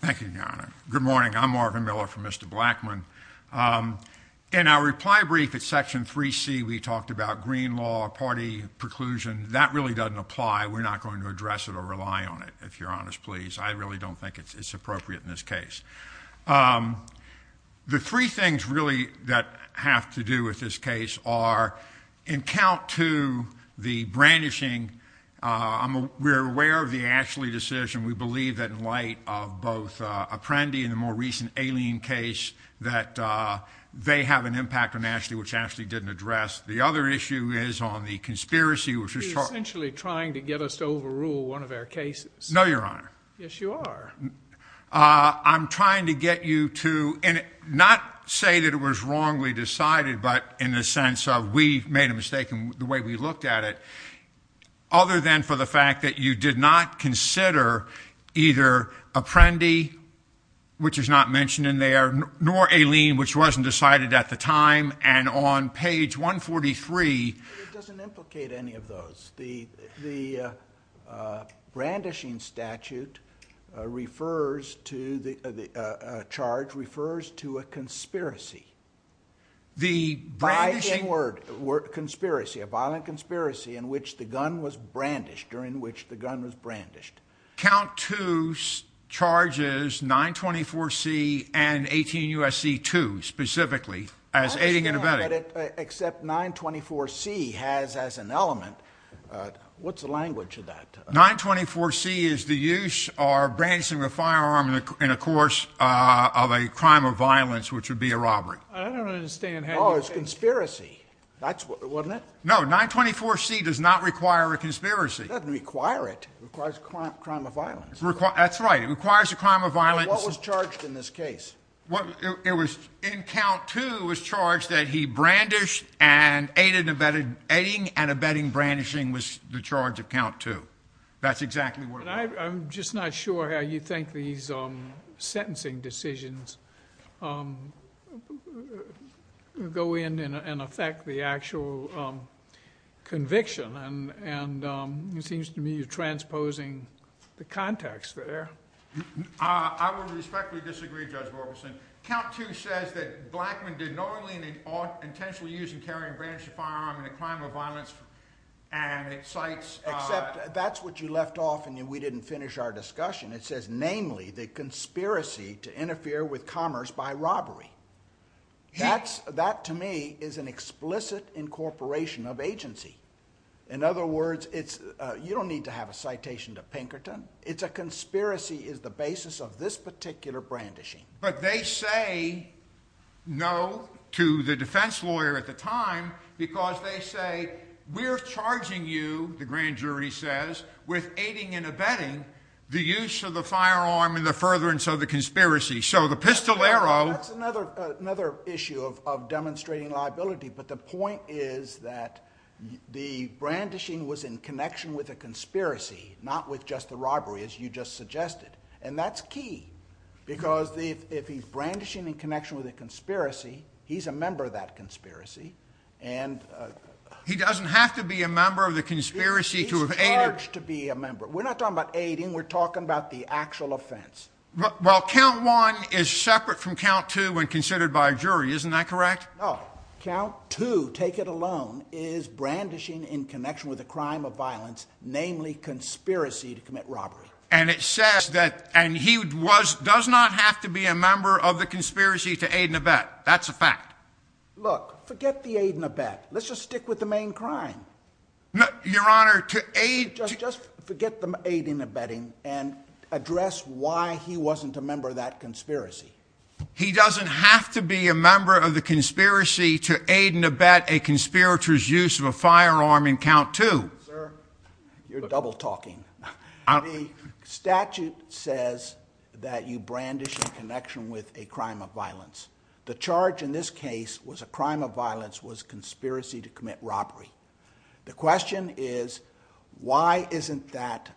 Thank you, Your Honor. Good morning. I'm Marvin Miller from Mr. Blackman. In our reply brief at Section 3C, we talked about green law, party preclusion. That really doesn't apply. We're not going to address it or rely on it, if you're honest, please. I really don't think it's appropriate in this case. The three things really that have to do with this case are In count to the brandishing, we're aware of the Ashley decision. We believe that in light of both Apprendi and the more recent Alien case, that they have an impact on Ashley, which Ashley didn't address. The other issue is on the conspiracy, which was He's essentially trying to get us to overrule one of our cases. No, Your Honor. Yes, you are. I'm trying to get you to not say that it was wrongly decided, but in the sense of we made a mistake in the way we looked at it, other than for the fact that you did not consider either Apprendi, which is not mentioned in there, nor Alien, which wasn't decided at the time, and on page 143 It doesn't implicate any of those. The brandishing statute refers to a charge, refers to a conspiracy. The brandishing By the word conspiracy, a violent conspiracy in which the gun was brandished, or in which the gun was brandished. Count to charges 924C and 18 U.S.C. 2, specifically, as aiding and abetting. Except 924C has as an element, what's the language of that? 924C is the use or brandishing of a firearm in the course of a crime of violence, which would be a robbery. I don't understand how you can Oh, it's conspiracy. That's what, wasn't it? No, 924C does not require a conspiracy. It doesn't require it. It requires a crime of violence. That's right. It requires a crime of violence. What was charged in this case? It was, in count 2, was charged that he brandished and aided and abetted, aiding and abetting brandishing was the charge of count 2. That's exactly what it was. I'm just not sure how you think these sentencing decisions go in and affect the actual conviction, and it seems to me you're transposing the context there. I would respectfully disagree, Judge Borgeson. Count 2 says that Blackmun did knowingly and intentionally use and carry and brandish a firearm in a crime of violence and it cites Except that's what you left off and we didn't finish our discussion. It says, namely, the conspiracy to interfere with commerce by robbery. That to me is an explicit incorporation of agency. In other words, you don't need to have a citation to Pinkerton. It's a conspiracy is the basis of this particular brandishing. But they say no to the defense lawyer at the time because they say, we're charging you, the grand jury says, with aiding and abetting the use of the firearm in the furtherance of the conspiracy. So the pistol arrow That's another issue of demonstrating liability, but the point is that the brandishing was in connection with a conspiracy, not with just the robbery, as you just suggested. And that's key, because if he's brandishing in connection with a conspiracy, he's a member of that conspiracy. And he doesn't have to be a member of the conspiracy to be a member. We're not talking about aiding. We're talking about the actual offense. Well, Count 1 is separate from Count 2 when considered by a jury, isn't that correct? Count 2, take it alone, is brandishing in connection with a crime of violence, namely conspiracy to commit robbery. And it says that, and he was, does not have to be a member of the conspiracy to aid and abet. That's a fact. Look, forget the aid and abet. Let's just stick with the main crime. No, Your Honor, to aid, Just forget the aid and abetting and address why he wasn't a member of that conspiracy. He doesn't have to be a member of the conspiracy to aid and abet a conspirators use of a firearm in Count 2. Sir, you're double talking. The statute says that you brandish in connection with a crime of violence. The charge in this case was a crime of violence was conspiracy to commit robbery. The question is, why isn't that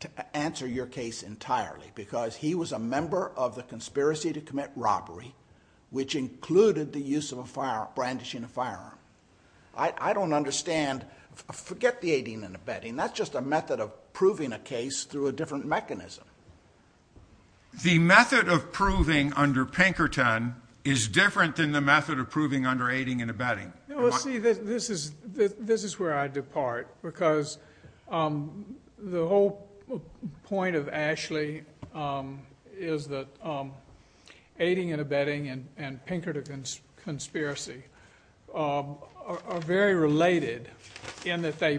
to answer your case entirely? Because he was a member of the conspiracy to commit robbery, which included the use of a firearm, brandishing a firearm. I don't understand. Forget the aiding and abetting. That's just a method of proving a case through a different mechanism. The method of proving under Pinkerton is different than the method of proving under aiding and abetting. You know, let's see, this is, this is where I depart because, um, the whole point of Ashley, um, is that, um, and Pinkerton conspiracy, um, are very related in that they,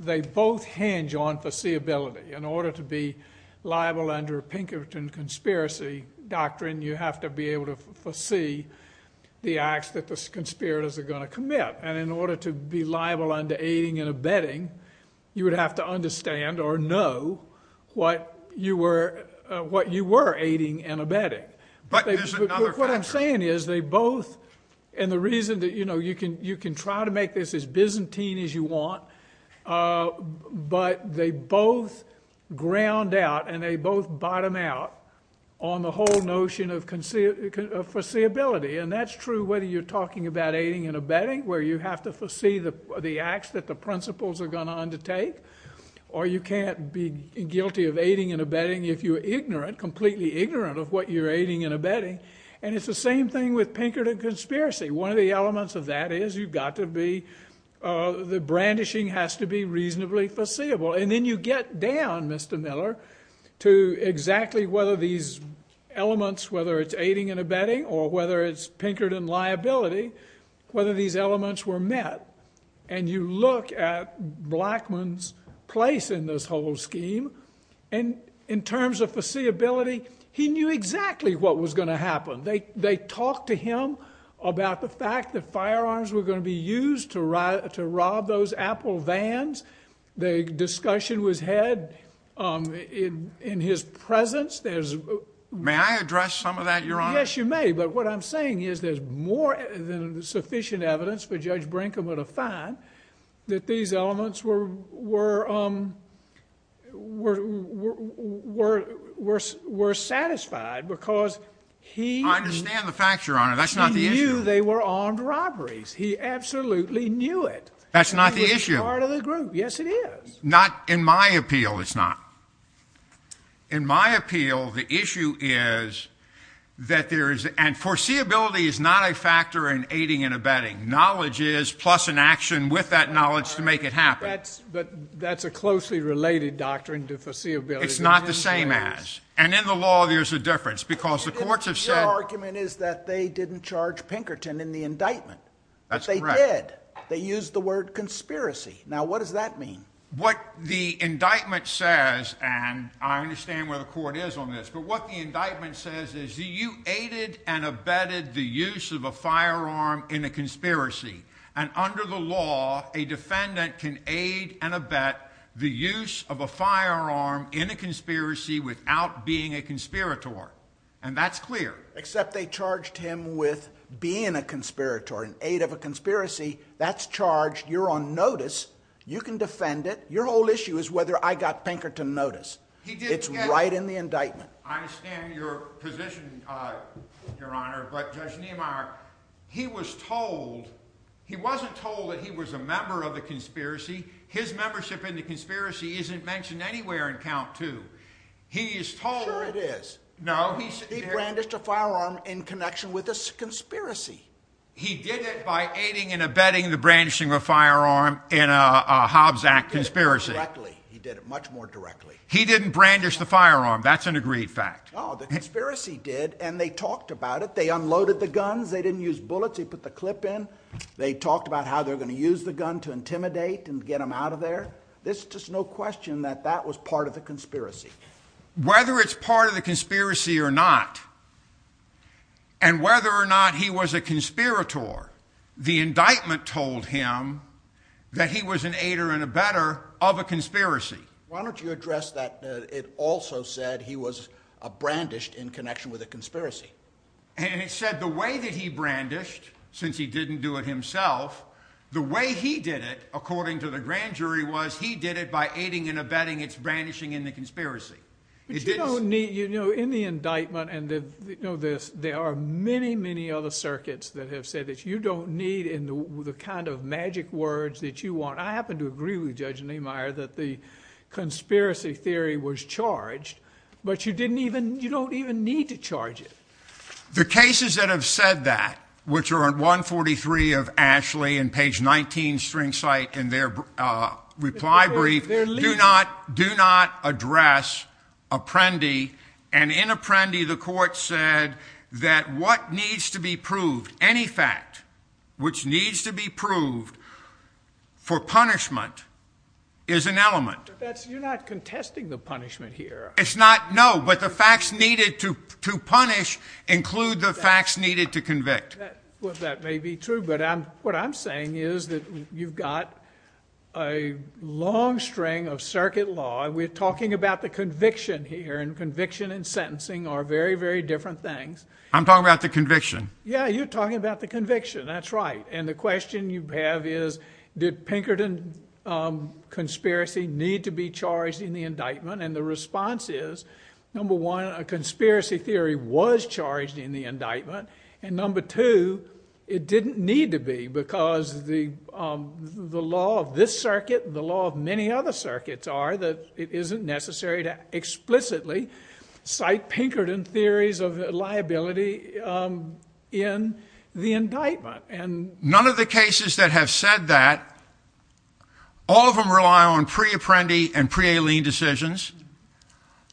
they both hinge on foreseeability in order to be liable under Pinkerton conspiracy doctrine. You have to be able to foresee the acts that the conspirators are going to commit. And in order to be liable under aiding and abetting, you would have to understand or know what you were, what you were aiding and abetting. But what I'm saying is they both, and the reason that, you know, you can, you can try to make this as Byzantine as you want. But they both ground out and they both bottom out on the whole notion of foreseeability. And that's true whether you're talking about aiding and abetting, where you have to foresee the acts that the principles are going to undertake. Or you can't be guilty of aiding and abetting if you're ignorant, completely ignorant of what you're aiding and abetting. And it's the same thing with Pinkerton conspiracy. One of the elements of that is you've got to be, uh, the brandishing has to be reasonably foreseeable. And then you get down, Mr. Miller, to exactly whether these elements, whether it's aiding and abetting or whether it's Pinkerton liability, whether these elements were met. And you look at Blackmun's place in this whole scheme. And in terms of foreseeability, he knew exactly what was going to happen. They, they talked to him about the fact that firearms were going to be used to rob, to rob those Apple vans. The discussion was had, um, in, in his presence. There's, may I address some of that, Your Honor? Yes, you may. But what I'm saying is there's more than sufficient evidence for Judge Brinkham at a fine that these elements were, were, um, were, were, were, were, were satisfied because he- I understand the fact, Your Honor. That's not the issue. He knew they were armed robberies. He absolutely knew it. That's not the issue. It was part of the group. Yes, it is. Not in my appeal, it's not. In my appeal, the issue is that there is, and foreseeability is not a factor in aiding and abetting. Knowledge is plus an action with that knowledge to make it happen. That's, but that's a closely related doctrine to foreseeability. It's not the same as, and in the law, there's a difference because the courts have said- Your argument is that they didn't charge Pinkerton in the indictment. That's correct. But they did. They used the word conspiracy. Now, what does that mean? What the indictment says, and I understand where the court is on this, but what the indictment says is that you aided and abetted the use of a firearm in a conspiracy and under the law, a defendant can aid and abet the use of a firearm in a conspiracy without being a conspirator, and that's clear. Except they charged him with being a conspirator, an aid of a conspiracy, that's charged. You're on notice. You can defend it. Your whole issue is whether I got Pinkerton notice. He did get- It's right in the indictment. I understand your position, Your Honor, but Judge Niemeyer, he wasn't told that he was a member of the conspiracy. His membership in the conspiracy isn't mentioned anywhere in count two. He is told- Sure it is. No. He brandished a firearm in connection with a conspiracy. He did it by aiding and abetting the brandishing of a firearm in a Hobbs Act conspiracy. He did it directly. He did it much more directly. He didn't brandish the firearm. That's an agreed fact. No, the conspiracy did, and they talked about it. They unloaded the guns. They didn't use bullets. They put the clip in. They talked about how they're going to use the gun to intimidate and get them out of there. There's just no question that that was part of the conspiracy. Whether it's part of the conspiracy or not, and whether or not he was a conspirator, the indictment told him that he was an aider and abetter of a conspiracy. Why don't you address that it also said he was brandished in connection with a conspiracy? It said the way that he brandished, since he didn't do it himself, the way he did it, according to the grand jury, was he did it by aiding and abetting its brandishing in the conspiracy. You know, in the indictment, and you know this, there are many, many other circuits that have said that you don't need in the kind of magic words that you want. I happen to agree with Judge Niemeyer that the conspiracy theory was charged, but you don't even need to charge it. The cases that have said that, which are on 143 of Ashley and page 19 string site in their reply brief, do not address Apprendi. And in Apprendi, the court said that what needs to be proved, any fact which needs to be proved for punishment is an element. You're not contesting the punishment here. It's not. No. But the facts needed to punish include the facts needed to convict. Well, that may be true. But what I'm saying is that you've got a long string of circuit law. And we're talking about the conviction here and conviction and sentencing are very, very different things. I'm talking about the conviction. Yeah, you're talking about the conviction. That's right. And the question you have is, did Pinkerton conspiracy need to be charged in the indictment? And the response is number one, a conspiracy theory was charged in the indictment. And number two, it didn't need to be because the the law of this circuit, the law of many other circuits are that it isn't necessary to explicitly cite Pinkerton theories of liability in the indictment. And none of the cases that have said that all of them rely on pre Apprendi and pre Aileen decisions,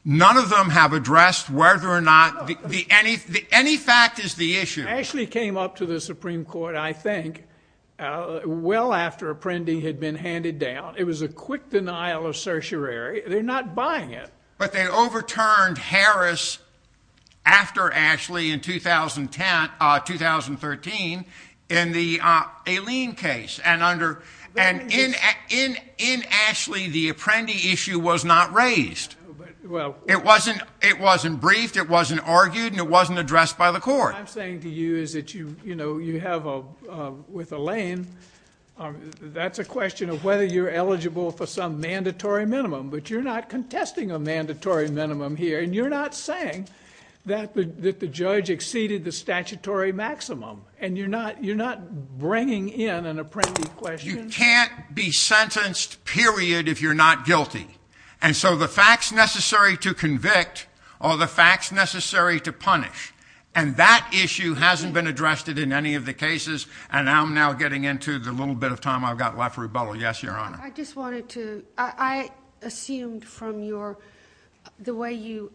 none of them have addressed whether or not any fact is the issue. Ashley came up to the Supreme Court, I think, well after Apprendi had been handed down. It was a quick denial of certiorari. They're not buying it. But they overturned Harris after Ashley in 2010, 2013 in the Aileen case. And in Ashley, the Apprendi issue was not raised. It wasn't briefed, it wasn't argued, and it wasn't addressed by the court. What I'm saying to you is that you have with Elaine, that's a question of whether you're eligible for some mandatory minimum. But you're not contesting a mandatory minimum here. And you're not saying that the judge exceeded the statutory maximum. And you're not bringing in an Apprendi question. You can't be sentenced, period, if you're not guilty. And so the facts necessary to convict are the facts necessary to punish. And that issue hasn't been addressed in any of the cases. And I'm now getting into the little bit of time I've got left for rebuttal. Yes, Your Honor. I just wanted to, I assumed from your, the way you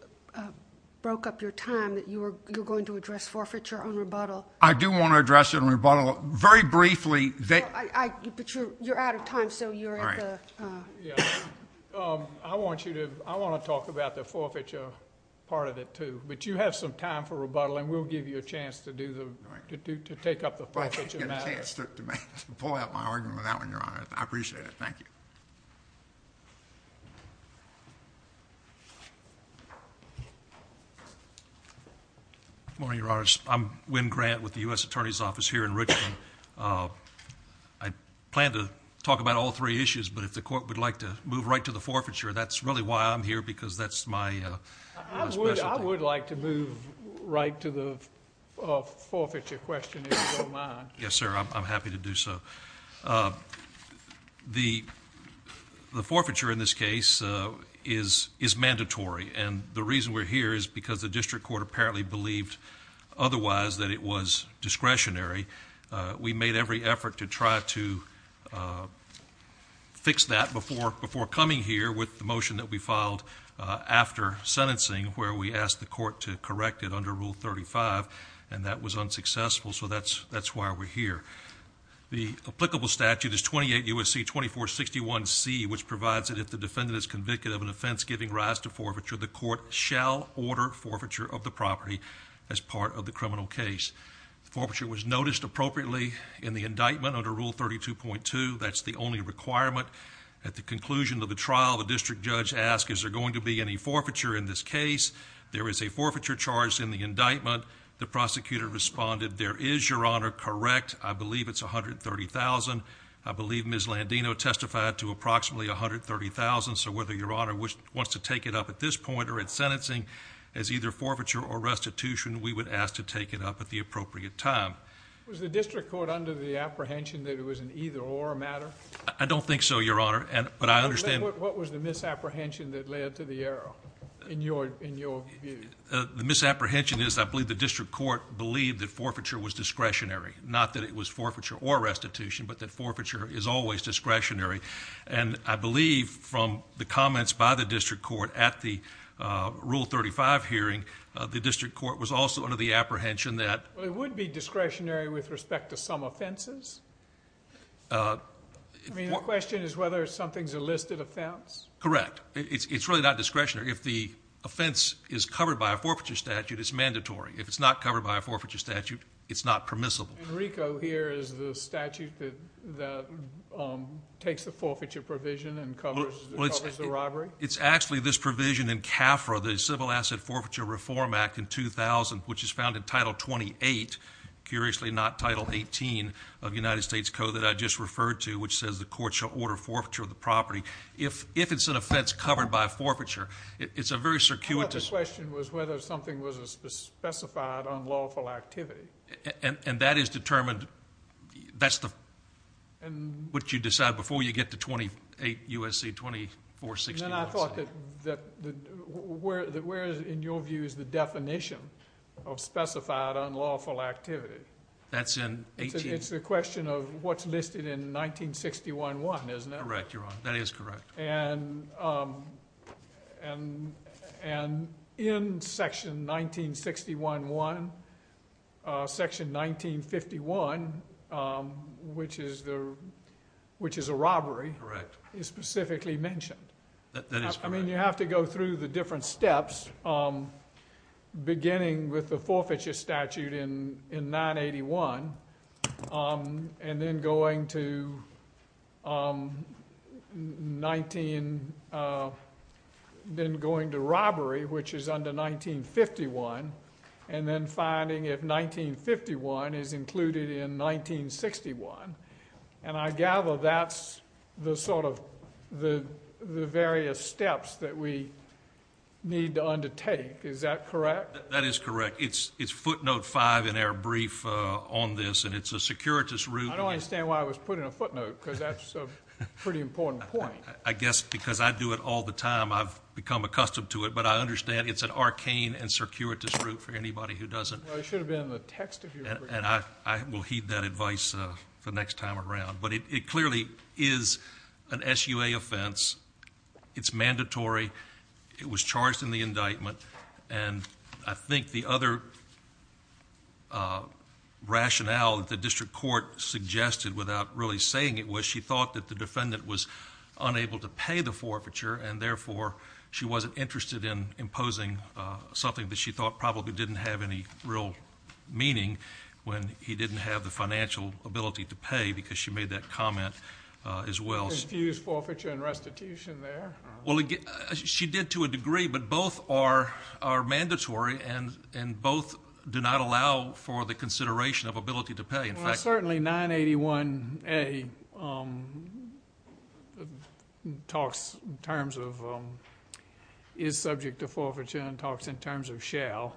broke up your time that you were going to address forfeiture on rebuttal. I do want to address it on rebuttal. Very briefly, they- I, but you're out of time, so you're at the- All right. Yeah. I want you to, I want to talk about the forfeiture part of it too. But you have some time for rebuttal, and we'll give you a chance to do the, to do, to take up the forfeiture matter. I can't get a chance to pull out my argument with that one, Your Honor. I appreciate it. Thank you. Morning, Your Honors. I'm Wynn Grant with the US Attorney's Office here in Richmond. I plan to talk about all three issues, but if the court would like to move right to the forfeiture, that's really why I'm here. Because that's my specialty. I would like to move right to the forfeiture question, if you don't mind. Yes, sir, I'm happy to do so. And the reason we're here is because the district court apparently believed otherwise that it was discretionary. We made every effort to try to fix that before, before coming here with the motion that we filed after sentencing, where we asked the court to correct it under Rule 35, and that was unsuccessful. So that's, that's why we're here. The applicable statute is 28 U.S.C. 2461 C, which provides that if the defendant is convicted of an offense giving rise to forfeiture, the court shall order forfeiture of the property as part of the criminal case. Forfeiture was noticed appropriately in the indictment under Rule 32.2, that's the only requirement. At the conclusion of the trial, the district judge asked, is there going to be any forfeiture in this case? There is a forfeiture charge in the indictment. The prosecutor responded, there is, Your Honor, correct. I believe it's 130,000. I believe Ms. Landino testified to approximately 130,000. So whether Your Honor wants to take it up at this point or at sentencing as either forfeiture or restitution, we would ask to take it up at the appropriate time. Was the district court under the apprehension that it was an either or matter? I don't think so, Your Honor, but I understand- What was the misapprehension that led to the error, in your view? The misapprehension is, I believe the district court believed that forfeiture was discretionary. Not that it was forfeiture or restitution, but that forfeiture is always discretionary. And I believe from the comments by the district court at the Rule 35 hearing, the district court was also under the apprehension that- Well, it would be discretionary with respect to some offenses? I mean, the question is whether something's a listed offense? Correct. It's really not discretionary. If the offense is covered by a forfeiture statute, it's mandatory. If it's not covered by a forfeiture statute, it's not permissible. Enrico, here, is the statute that takes the forfeiture provision and covers the robbery? It's actually this provision in CAFRA, the Civil Asset Forfeiture Reform Act in 2000, which is found in Title 28. Curiously, not Title 18 of United States Code that I just referred to, which says the court shall order forfeiture of the property. If it's an offense covered by a forfeiture, it's a very circuitous- I thought the question was whether something was a specified unlawful activity. And that is determined, that's what you decide before you get to 28 U.S.C. 2461. And I thought that where, in your view, is the definition of specified unlawful activity? That's in 18- It's the question of what's listed in 1961.1, isn't it? Correct, Your Honor. That is correct. And in Section 1961.1, Section 1951, which is a robbery, is specifically mentioned. That is correct. I mean, you have to go through the different steps, beginning with the forfeiture statute in 981, and then going to robbery, which is under 1951, and then finding if 1951 is included in 1961. And I gather that's the various steps that we need to undertake. Is that correct? That is correct. It's footnote five in our brief on this, and it's a circuitous route- I don't understand why it was put in a footnote, because that's a pretty important point. I guess because I do it all the time, I've become accustomed to it. But I understand it's an arcane and circuitous route for anybody who doesn't- Well, it should have been in the text of your brief. And I will heed that advice the next time around. But it clearly is an SUA offense. It's mandatory. It was charged in the indictment. And I think the other rationale that the district court suggested, without really saying it, was she thought that the defendant was unable to pay the forfeiture, and therefore she wasn't interested in imposing something that she thought probably didn't have any real meaning, when he didn't have the financial ability to pay, because she made that comment as well. Confused forfeiture and restitution there? Well, she did to a degree, but both are mandatory, and both do not allow for the consideration of ability to pay. Well, certainly 981A talks in terms of, is subject to forfeiture, and talks in terms of shall.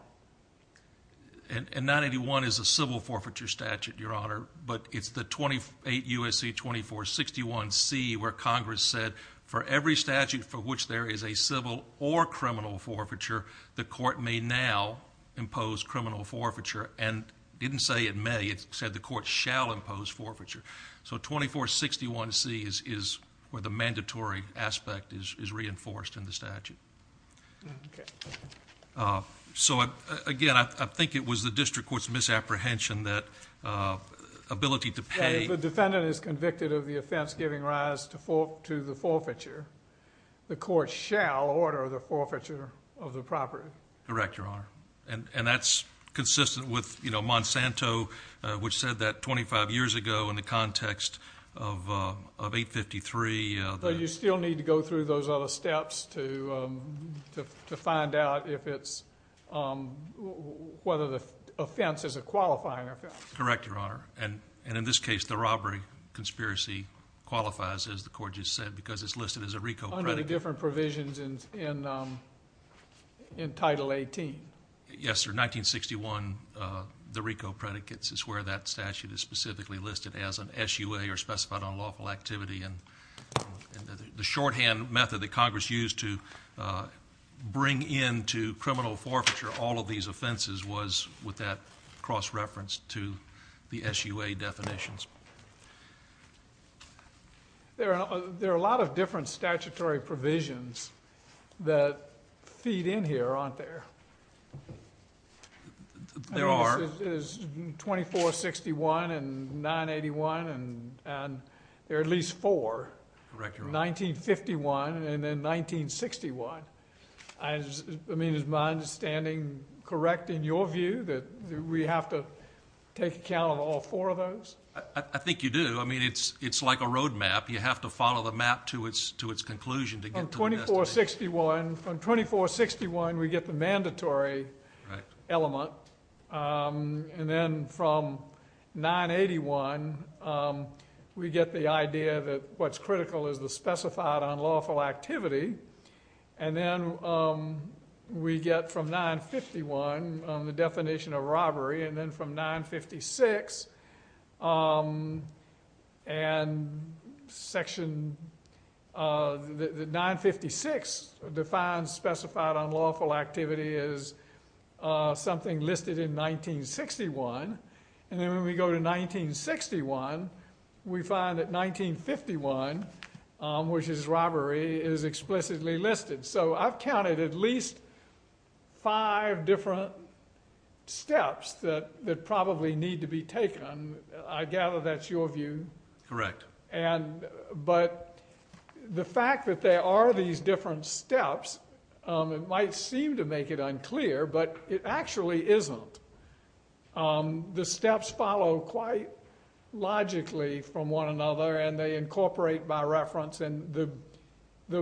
And 981 is a civil forfeiture statute, Your Honor. But it's the 28 U.S.C. 2461C, where Congress said, for every statute for which there is a civil or criminal forfeiture, the court may now impose criminal forfeiture. And didn't say it may, it said the court shall impose forfeiture. So 2461C is where the mandatory aspect is reinforced in the statute. Okay. So again, I think it was the district court's misapprehension that ability to pay- That if the defendant is convicted of the offense giving rise to the forfeiture, the court shall order the forfeiture of the property. Correct, Your Honor. And that's consistent with Monsanto, which said that 25 years ago in the context of 853- So you still need to go through those other steps to find out if it's, whether the offense is a qualifying offense. Correct, Your Honor. And in this case, the robbery conspiracy qualifies, as the court just said, because it's listed as a RICO predicate. Under the different provisions in Title 18. Yes, sir. 1961, the RICO predicates is where that statute is specifically listed as an SUA or The shorthand method that Congress used to bring into criminal forfeiture all of these offenses was with that cross-reference to the SUA definitions. There are a lot of different statutory provisions that feed in here, aren't there? There are. Is 2461 and 981 and there are at least four. Correct, Your Honor. 1951 and then 1961. I mean, is my understanding correct in your view that we have to take account of all four of those? I think you do. I mean, it's like a road map. You have to follow the map to its conclusion to get to the best of it. From 2461, we get the mandatory element. And then from 981, we get the idea that what's critical is the specified unlawful activity. And then we get from 951, the definition of robbery, and then from 956, and section 956 defines specified unlawful activity as something listed in 1961. And then when we go to 1961, we find that 1951, which is robbery, is explicitly listed. So I've counted at least five different steps that probably need to be taken. I gather that's your view. Correct. But the fact that there are these different steps, it might seem to make it unclear, but it actually isn't. The steps follow quite logically from one another and they incorporate by reference. And the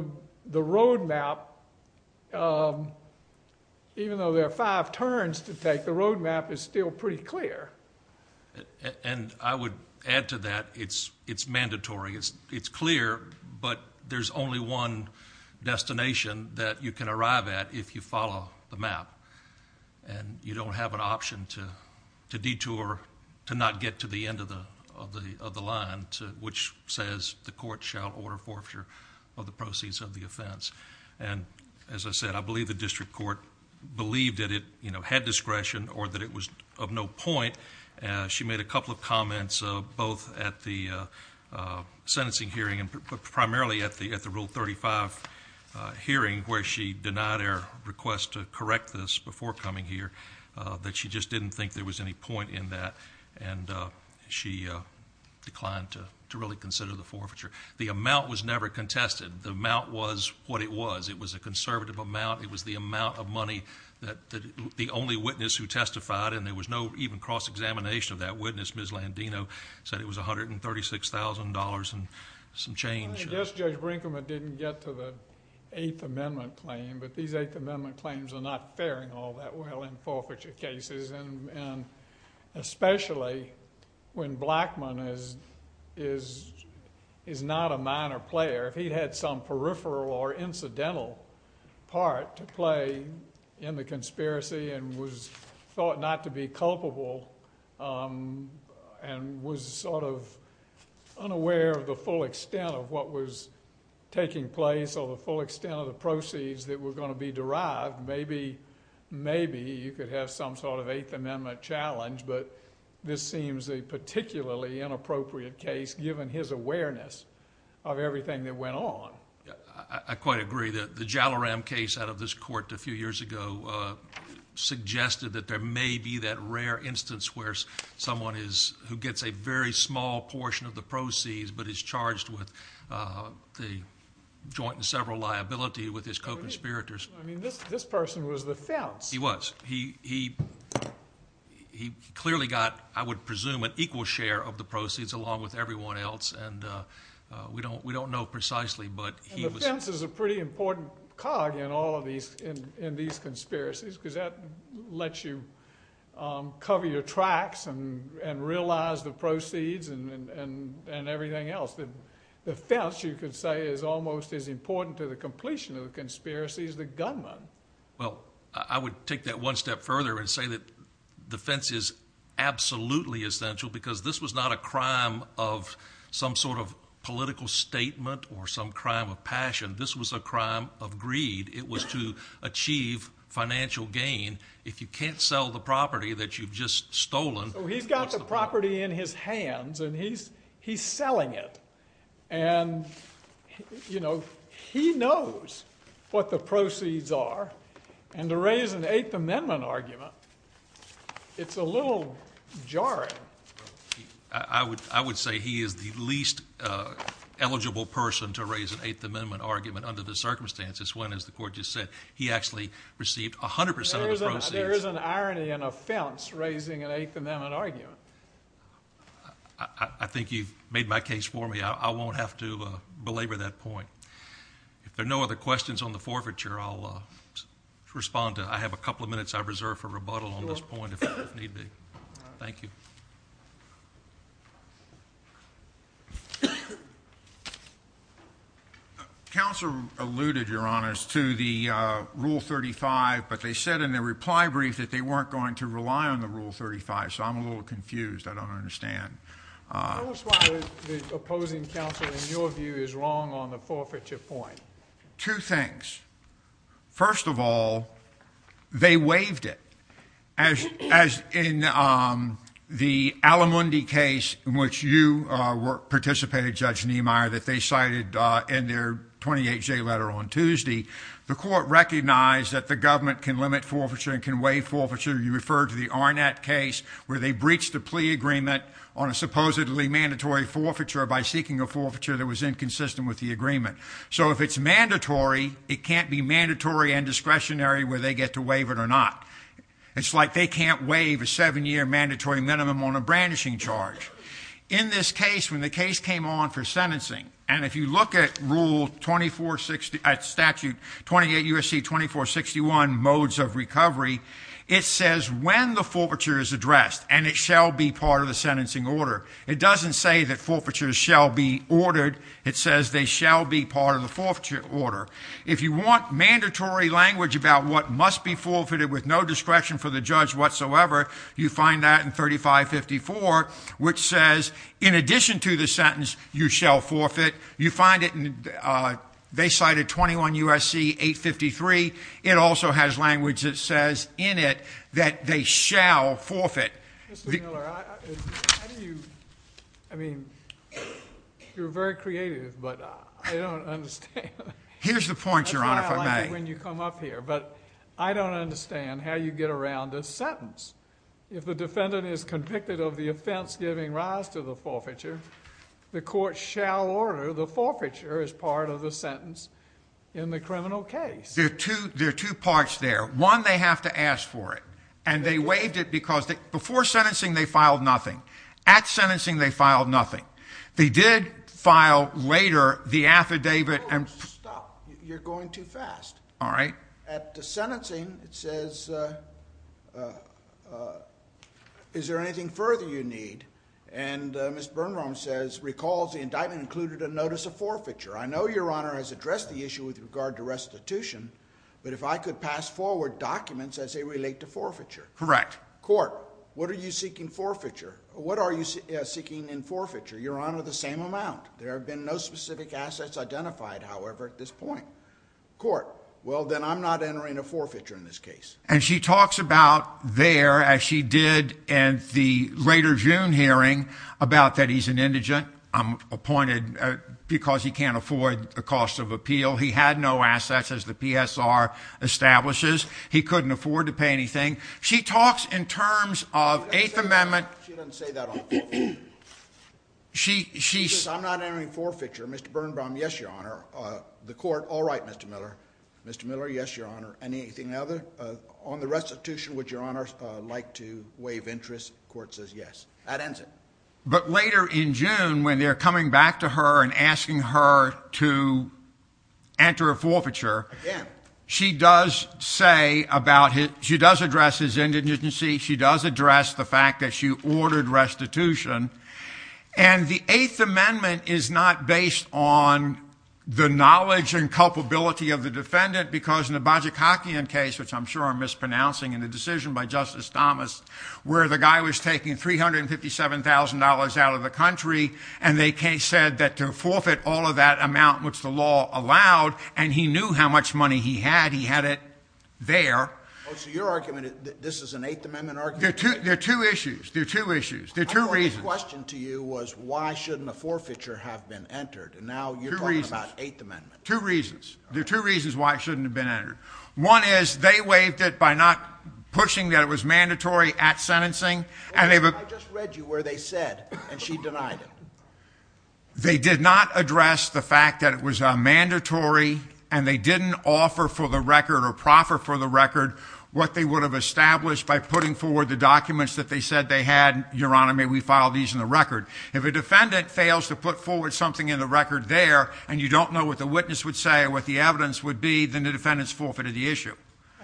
road map, even though there are five turns to take, the road map is still pretty clear. And I would add to that, it's mandatory, it's clear, but there's only one destination that you can arrive at if you follow the map. And you don't have an option to detour, to not get to the end of the line, which says the court shall order forfeiture of the proceeds of the offense. And as I said, I believe the district court believed that it had discretion or that it was of no point. She made a couple of comments, both at the sentencing hearing, but primarily at the Rule 35 hearing where she denied our request to correct this before coming here. That she just didn't think there was any point in that, and she declined to really consider the forfeiture. The amount was never contested. The amount was what it was. It was a conservative amount. It was the amount of money that the only witness who testified, and there was no even cross-examination of that witness, Ms. Landino, said it was $136,000 and some change. I guess Judge Brinkman didn't get to the Eighth Amendment claim, but these Eighth Amendment claims are not faring all that well in forfeiture cases, and especially when Blackmun is not a minor player. If he'd had some peripheral or incidental part to play in the conspiracy and was thought not to be culpable and was sort of unaware of the full extent of what was taking place or the full extent of the proceeds that were going to be derived, maybe you could have some sort of Eighth Amendment challenge, but this seems a particularly inappropriate case, given his awareness of everything that went on. I quite agree. The Jalloram case out of this court a few years ago suggested that there may be that rare instance where someone who gets a very small portion of the proceeds but is charged with the joint and several liability with his co-conspirators. I mean, this person was the fence. He was. He clearly got, I would presume, an equal share of the proceeds along with everyone else, and we don't know precisely, but he was. The fence is a pretty important cog in all of these conspiracies, because that lets you cover your tracks and realize the proceeds and everything else. The fence, you could say, is almost as important to the completion of the conspiracy as the gunman. Well, I would take that one step further and say that the fence is absolutely essential, because this was not a crime of some sort of political statement or some crime of passion. This was a crime of greed. It was to achieve financial gain. If you can't sell the property that you've just stolen... He's got the property in his hands, and he's selling it. And he knows what the proceeds are, and to raise an Eighth Amendment argument, it's a little jarring. I would say he is the least eligible person to raise an Eighth Amendment argument under the circumstances, when, as the court just said, he actually received 100% of the proceeds. There is an irony in a fence raising an Eighth Amendment argument. I think you've made my case for me. I won't have to belabor that point. If there are no other questions on the forfeiture, I'll respond to it. I have a couple of minutes I've reserved for rebuttal on this point, if need be. Thank you. Counselor alluded, Your Honors, to the Rule 35, but they said in their reply brief that they weren't going to rely on the Rule 35, so I'm a little confused. I don't understand. Tell us why the opposing counsel, in your view, is wrong on the forfeiture point. Two things. First of all, they waived it. As in the Alamundi case, in which you participated, Judge Niemeyer, that they cited in their 28-J letter on Tuesday, the court recognized that the government can limit forfeiture and can waive forfeiture. You referred to the Arnett case, where they breached a plea agreement on a supposedly mandatory forfeiture by seeking a forfeiture that was inconsistent with the agreement. So if it's mandatory, it can't be mandatory and discretionary whether they get to waive it or not. It's like they can't waive a seven year mandatory minimum on a brandishing charge. In this case, when the case came on for sentencing, and if you look at Rule 2460, at Statute 28 U.S.C. 2461, Modes of Recovery, it says when the forfeiture is addressed, and it shall be part of the sentencing order. It doesn't say that forfeitures shall be ordered. It says they shall be part of the forfeiture order. If you want mandatory language about what must be forfeited with no discretion for the judge whatsoever, you find that in 3554, which says in addition to the sentence, you shall forfeit. You find it in, they cited 21 U.S.C. 853. It also has language that says in it that they shall forfeit. Mr. Miller, how do you, I mean, you're very creative, but I don't understand. Here's the point, Your Honor, if I may. That's why I like it when you come up here, but I don't understand how you get around a sentence. If the defendant is convicted of the offense giving rise to the forfeiture, the court shall order the forfeiture as part of the sentence in the criminal case. There are two parts there. One, they have to ask for it. And they waived it because before sentencing, they filed nothing. At sentencing, they filed nothing. They did file later the affidavit and- Stop. You're going too fast. All right. At the sentencing, it says, is there anything further you need? And Ms. Birnbaum says, recalls the indictment included a notice of forfeiture. I know Your Honor has addressed the issue with regard to restitution, but if I could pass forward documents as they relate to forfeiture. Correct. Court, what are you seeking in forfeiture? Your Honor, the same amount. There have been no specific assets identified, however, at this point. Court, well, then I'm not entering a forfeiture in this case. And she talks about there, as she did in the later June hearing, about that he's an indigent, appointed because he can't afford the cost of appeal. He had no assets, as the PSR establishes. He couldn't afford to pay anything. She talks in terms of Eighth Amendment- She doesn't say that on the court. She- I'm not entering forfeiture. Mr. Birnbaum, yes, Your Honor. The court, all right, Mr. Miller. Mr. Miller, yes, Your Honor. Anything other? On the restitution, would Your Honor like to waive interest? Court says yes. That ends it. But later in June, when they're coming back to her and asking her to enter a forfeiture, she does say about his- she does address his indigency. She does address the fact that she ordered restitution. And the Eighth Amendment is not based on the knowledge and culpability of the defendant, because in the Bajikakian case, which I'm sure I'm mispronouncing in the decision by Justice Thomas, where the guy was taking $357,000 out of the country, and the case said that to forfeit all of that amount, which the law allowed, and he knew how much money he had, he had it there. So your argument is that this is an Eighth Amendment argument? There are two issues. There are two issues. The question to you was why shouldn't a forfeiture have been entered? And now you're talking about Eighth Amendment. Two reasons. There are two reasons why it shouldn't have been entered. One is they waived it by not pushing that it was mandatory at sentencing. I just read you where they said, and she denied it. They did not address the fact that it was mandatory, and they didn't offer for the record or proffer for the record what they would have established by putting forward the documents that they said they had. Your Honor, may we file these in the record? If a defendant fails to put forward something in the record there, and you don't know what the witness would say or what the evidence would be, then the defendant's forfeited the issue.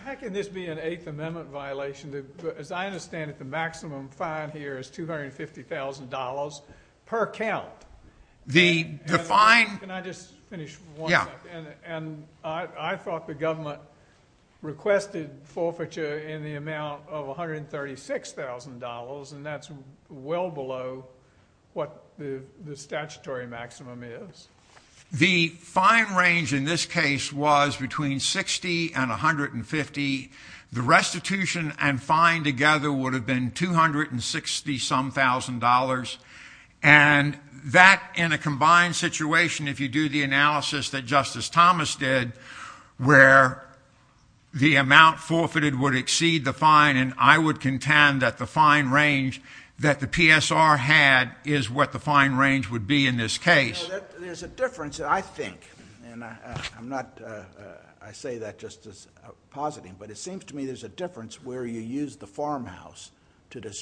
How can this be an Eighth Amendment violation? As I understand it, the maximum fine here is $250,000 per count. The fine- Can I just finish for one second? Yeah. And I thought the government requested forfeiture in the amount of $136,000, and that's well below what the statutory maximum is. The fine range in this case was between 60 and 150. The restitution and fine together would have been 260-some thousand dollars. And that, in a combined situation, if you do the analysis that Justice Thomas did, where the amount forfeited would exceed the fine, and I would contend that the fine range that the PSR had is what the fine range would be in this case. There's a difference, I think, and I'm not, I say that just as positing, but it seems to me there's a difference where you use the farmhouse to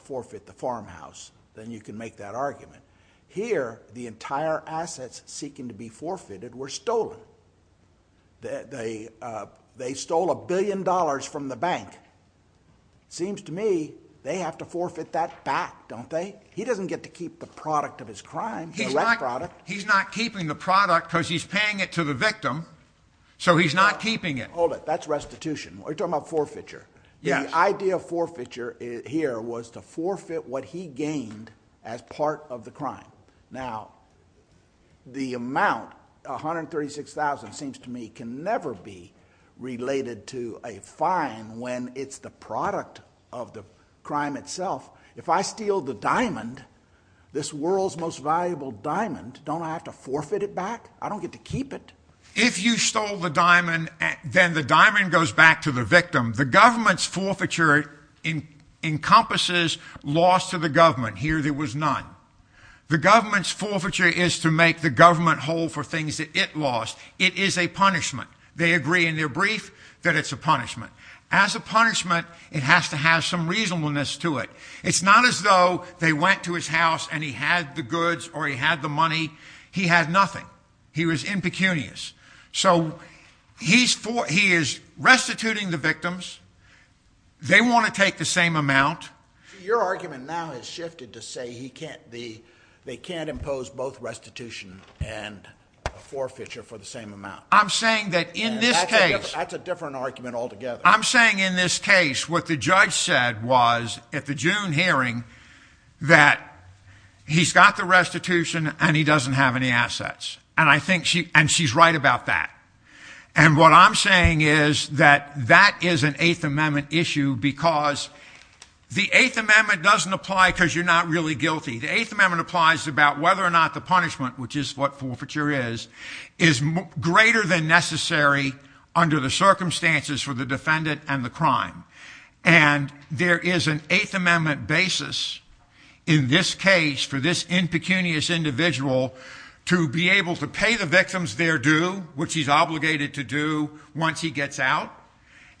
forfeit the farmhouse, then you can make that argument. Here, the entire assets seeking to be forfeited were stolen. They stole a billion dollars from the bank. Seems to me they have to forfeit that back, don't they? He doesn't get to keep the product of his crime, the left product. He's not keeping the product because he's paying it to the victim. So he's not keeping it. Hold it, that's restitution. We're talking about forfeiture. The idea of forfeiture here was to forfeit what he gained as part of the crime. Now, the amount, $136,000, seems to me can never be related to a fine when it's the product of the crime itself. If I steal the diamond, this world's most valuable diamond, don't I have to forfeit it back? I don't get to keep it. If you stole the diamond, then the diamond goes back to the victim. The government's forfeiture encompasses loss to the government. Here, there was none. The government's forfeiture is to make the government hold for things that it lost. It is a punishment. They agree in their brief that it's a punishment. As a punishment, it has to have some reasonableness to it. It's not as though they went to his house and he had the goods or he had the money. He had nothing. He was impecunious. So he is restituting the victims. They want to take the same amount. Your argument now has shifted to say they can't impose both restitution and forfeiture for the same amount. I'm saying that in this case- That's a different argument altogether. I'm saying in this case, what the judge said was at the June hearing that he's got the restitution and he doesn't have any assets. And she's right about that. And what I'm saying is that that is an Eighth Amendment issue because the Eighth Amendment doesn't apply because you're not really guilty. The Eighth Amendment applies about whether or not the punishment, which is what forfeiture is, is greater than necessary under the circumstances for the defendant and the crime. And there is an Eighth Amendment basis in this case for this impecunious individual to be able to pay the victims their due, which he's obligated to do once he gets out,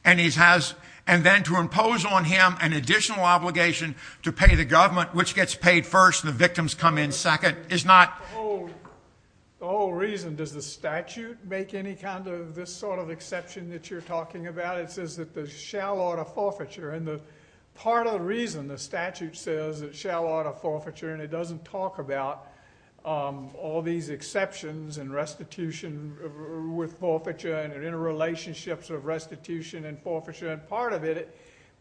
and then to impose on him an additional obligation to pay the government, which gets paid first and the victims come in second. The whole reason does the statute make any kind of this sort of exception that you're talking about? It says that the shell ought to forfeiture. And part of the reason the statute says it shall ought to forfeiture and it doesn't talk about all these exceptions and restitution with forfeiture and interrelationships of restitution and forfeiture. And part of it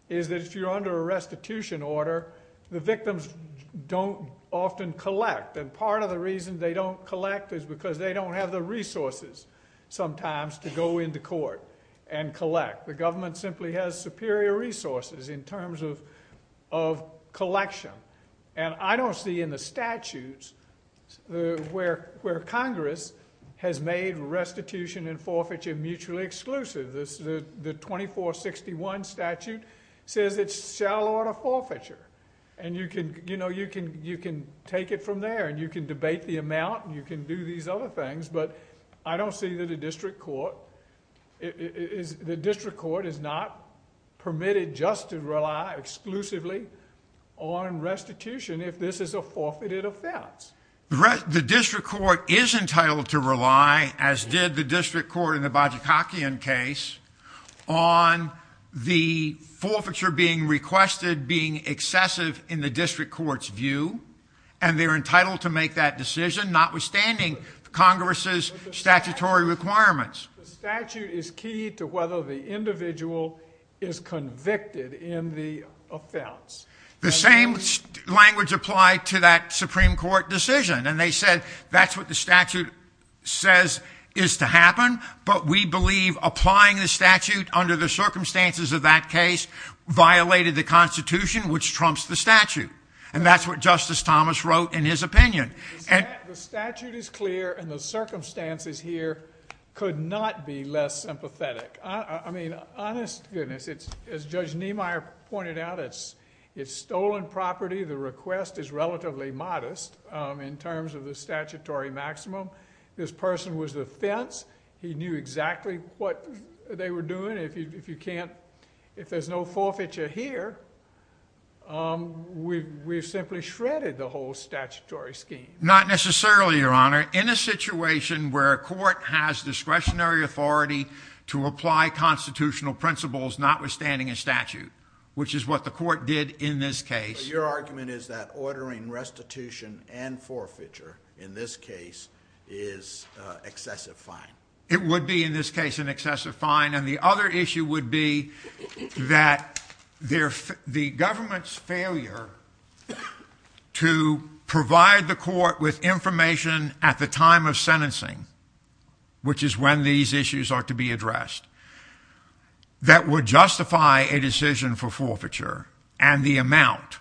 is that if you're under a restitution order, the victims don't often collect. And part of the reason they don't collect is because they don't have the resources sometimes to go into court and collect. The government simply has superior resources in terms of collection. And I don't see in the statutes where Congress has made restitution and forfeiture mutually exclusive. The 2461 statute says it shall ought to forfeiture. And you can take it from there and you can debate the amount and you can do these other things, but I don't see that a district court is not permitted just to rely exclusively on restitution if this is a forfeited offense. The district court is entitled to rely, as did the district court in the Bajikakian case, on the forfeiture being requested being excessive in the district court's view. And they're entitled to make that decision, notwithstanding Congress's statutory requirements. The statute is key to whether the individual is convicted in the offense. The same language applied to that Supreme Court decision. And they said that's what the statute says is to happen, but we believe applying the statute under the circumstances of that case violated the Constitution, which trumps the statute. And that's what Justice Thomas wrote in his opinion. The statute is clear and the circumstances here could not be less sympathetic. Honest goodness, as Judge Niemeyer pointed out, it's stolen property. The request is relatively modest in terms of the statutory maximum. This person was the fence. He knew exactly what they were doing. If there's no forfeiture here, we've simply shredded the whole statutory scheme. Not necessarily, Your Honor. In a situation where a court has discretionary authority to apply constitutional principles notwithstanding a statute, which is what the court did in this case. Your argument is that ordering restitution and forfeiture, in this case, is excessive fine. It would be, in this case, an excessive fine. And the other issue would be that the government's failure to provide the court with information at the time of sentencing, which is when these issues are to be addressed, that would justify a decision for forfeiture, and the amount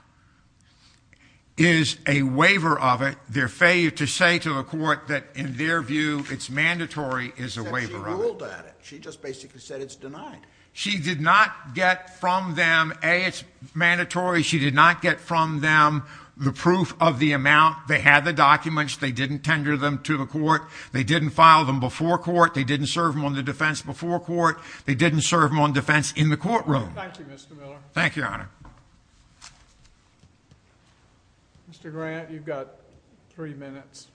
is a waiver of it. Their failure to say to the court that, in their view, it's mandatory is a waiver of it. She ruled at it. She just basically said it's denied. She did not get from them, A, it's mandatory. She did not get from them the proof of the amount. They had the documents. They didn't tender them to the court. They didn't file them before court. They didn't serve them on the defense before court. They didn't serve them on defense in the courtroom. Thank you, Mr. Miller. Thank you, Your Honor. Mr. Grant, you've got three minutes.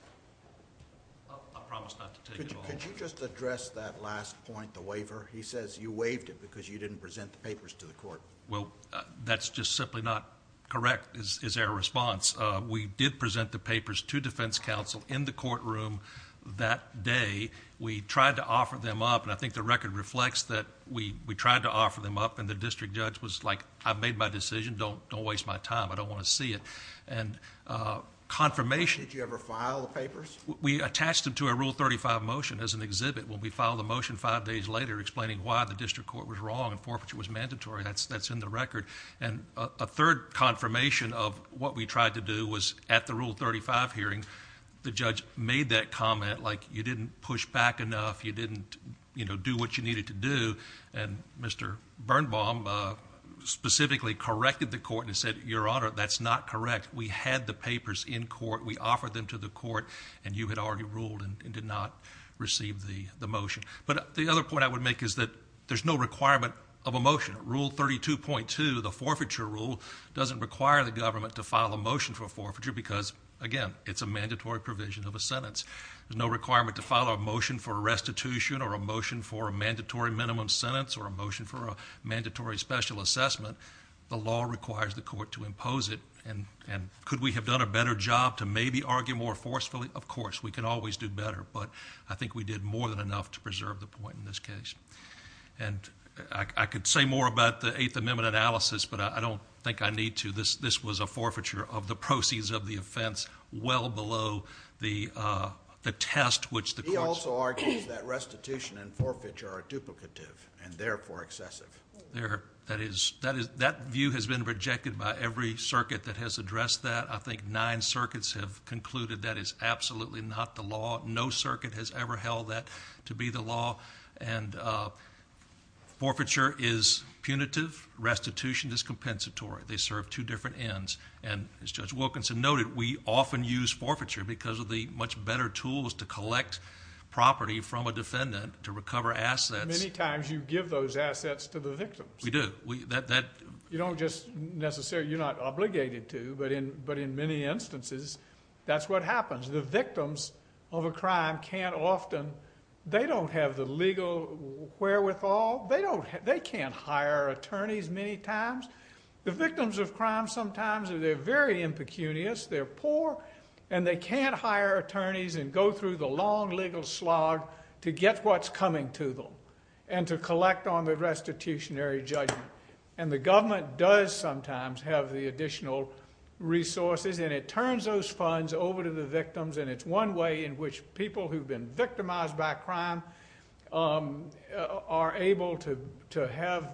I promise not to take it all. Could you just address that last point, the waiver? He says you waived it because you didn't present the papers to the court. Well, that's just simply not correct is their response. We did present the papers to defense counsel in the courtroom that day. We tried to offer them up, and I think the record reflects that we tried to offer them up, and the district judge was like, I've made my decision. Don't waste my time. I don't want to see it. And confirmation... Did you ever file the papers? We attached them to a Rule 35 motion as an exhibit. When we filed the motion five days later explaining why the district court was wrong and forfeiture was mandatory, that's in the record. And a third confirmation of what we tried to do was at the Rule 35 hearing, the judge made that comment like you didn't push back enough. You didn't do what you needed to do. And Mr. Birnbaum specifically corrected the court and said, Your Honor, that's not correct. We had the papers in court. We offered them to the court, and you had already ruled and did not receive the motion. But the other point I would make is that there's no requirement of a motion. Rule 32.2, the forfeiture rule, doesn't require the government to file a motion for forfeiture because, again, it's a mandatory provision of a sentence. There's no requirement to file a motion for a restitution or a motion for a mandatory minimum sentence or a motion for a mandatory special assessment. The law requires the court to impose it, and could we have done a better job to maybe argue more forcefully? Of course, we can always do better, but I think we did more than enough to preserve the point in this case. And I could say more about the Eighth Amendment analysis, but I don't think I need to. This was a forfeiture of the proceeds of the offense well below the test which the court— He also argues that restitution and forfeiture are duplicative and therefore excessive. That view has been rejected by every circuit that has addressed that. I think nine circuits have concluded that is absolutely not the law. No circuit has ever held that to be the law. And forfeiture is punitive. Restitution is compensatory. They serve two different ends. And as Judge Wilkinson noted, we often use forfeiture because of the much better tools to collect property from a defendant to recover assets. Many times you give those assets to the victims. We do. You don't just necessarily—you're not obligated to, but in many instances that's what happens. The victims of a crime can't often—they don't have the legal wherewithal. They can't hire attorneys many times. The victims of crime sometimes, they're very impecunious. They're poor, and they can't hire attorneys and go through the long legal slog to get what's coming to them and to collect on the restitutionary judgment. And the government does sometimes have the additional resources, and it turns those funds over to the victims, and it's one way in which people who've been victimized by crime are able to have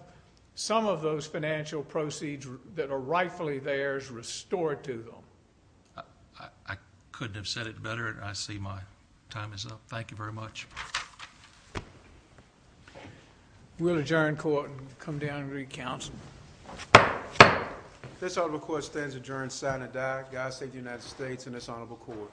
some of those financial proceeds that are rightfully theirs restored to them. I couldn't have said it better, and I see my time is up. Thank you very much. We'll adjourn court and come down and read counsel. This honorable court stands adjourned, sign and die. God save the United States and this honorable court.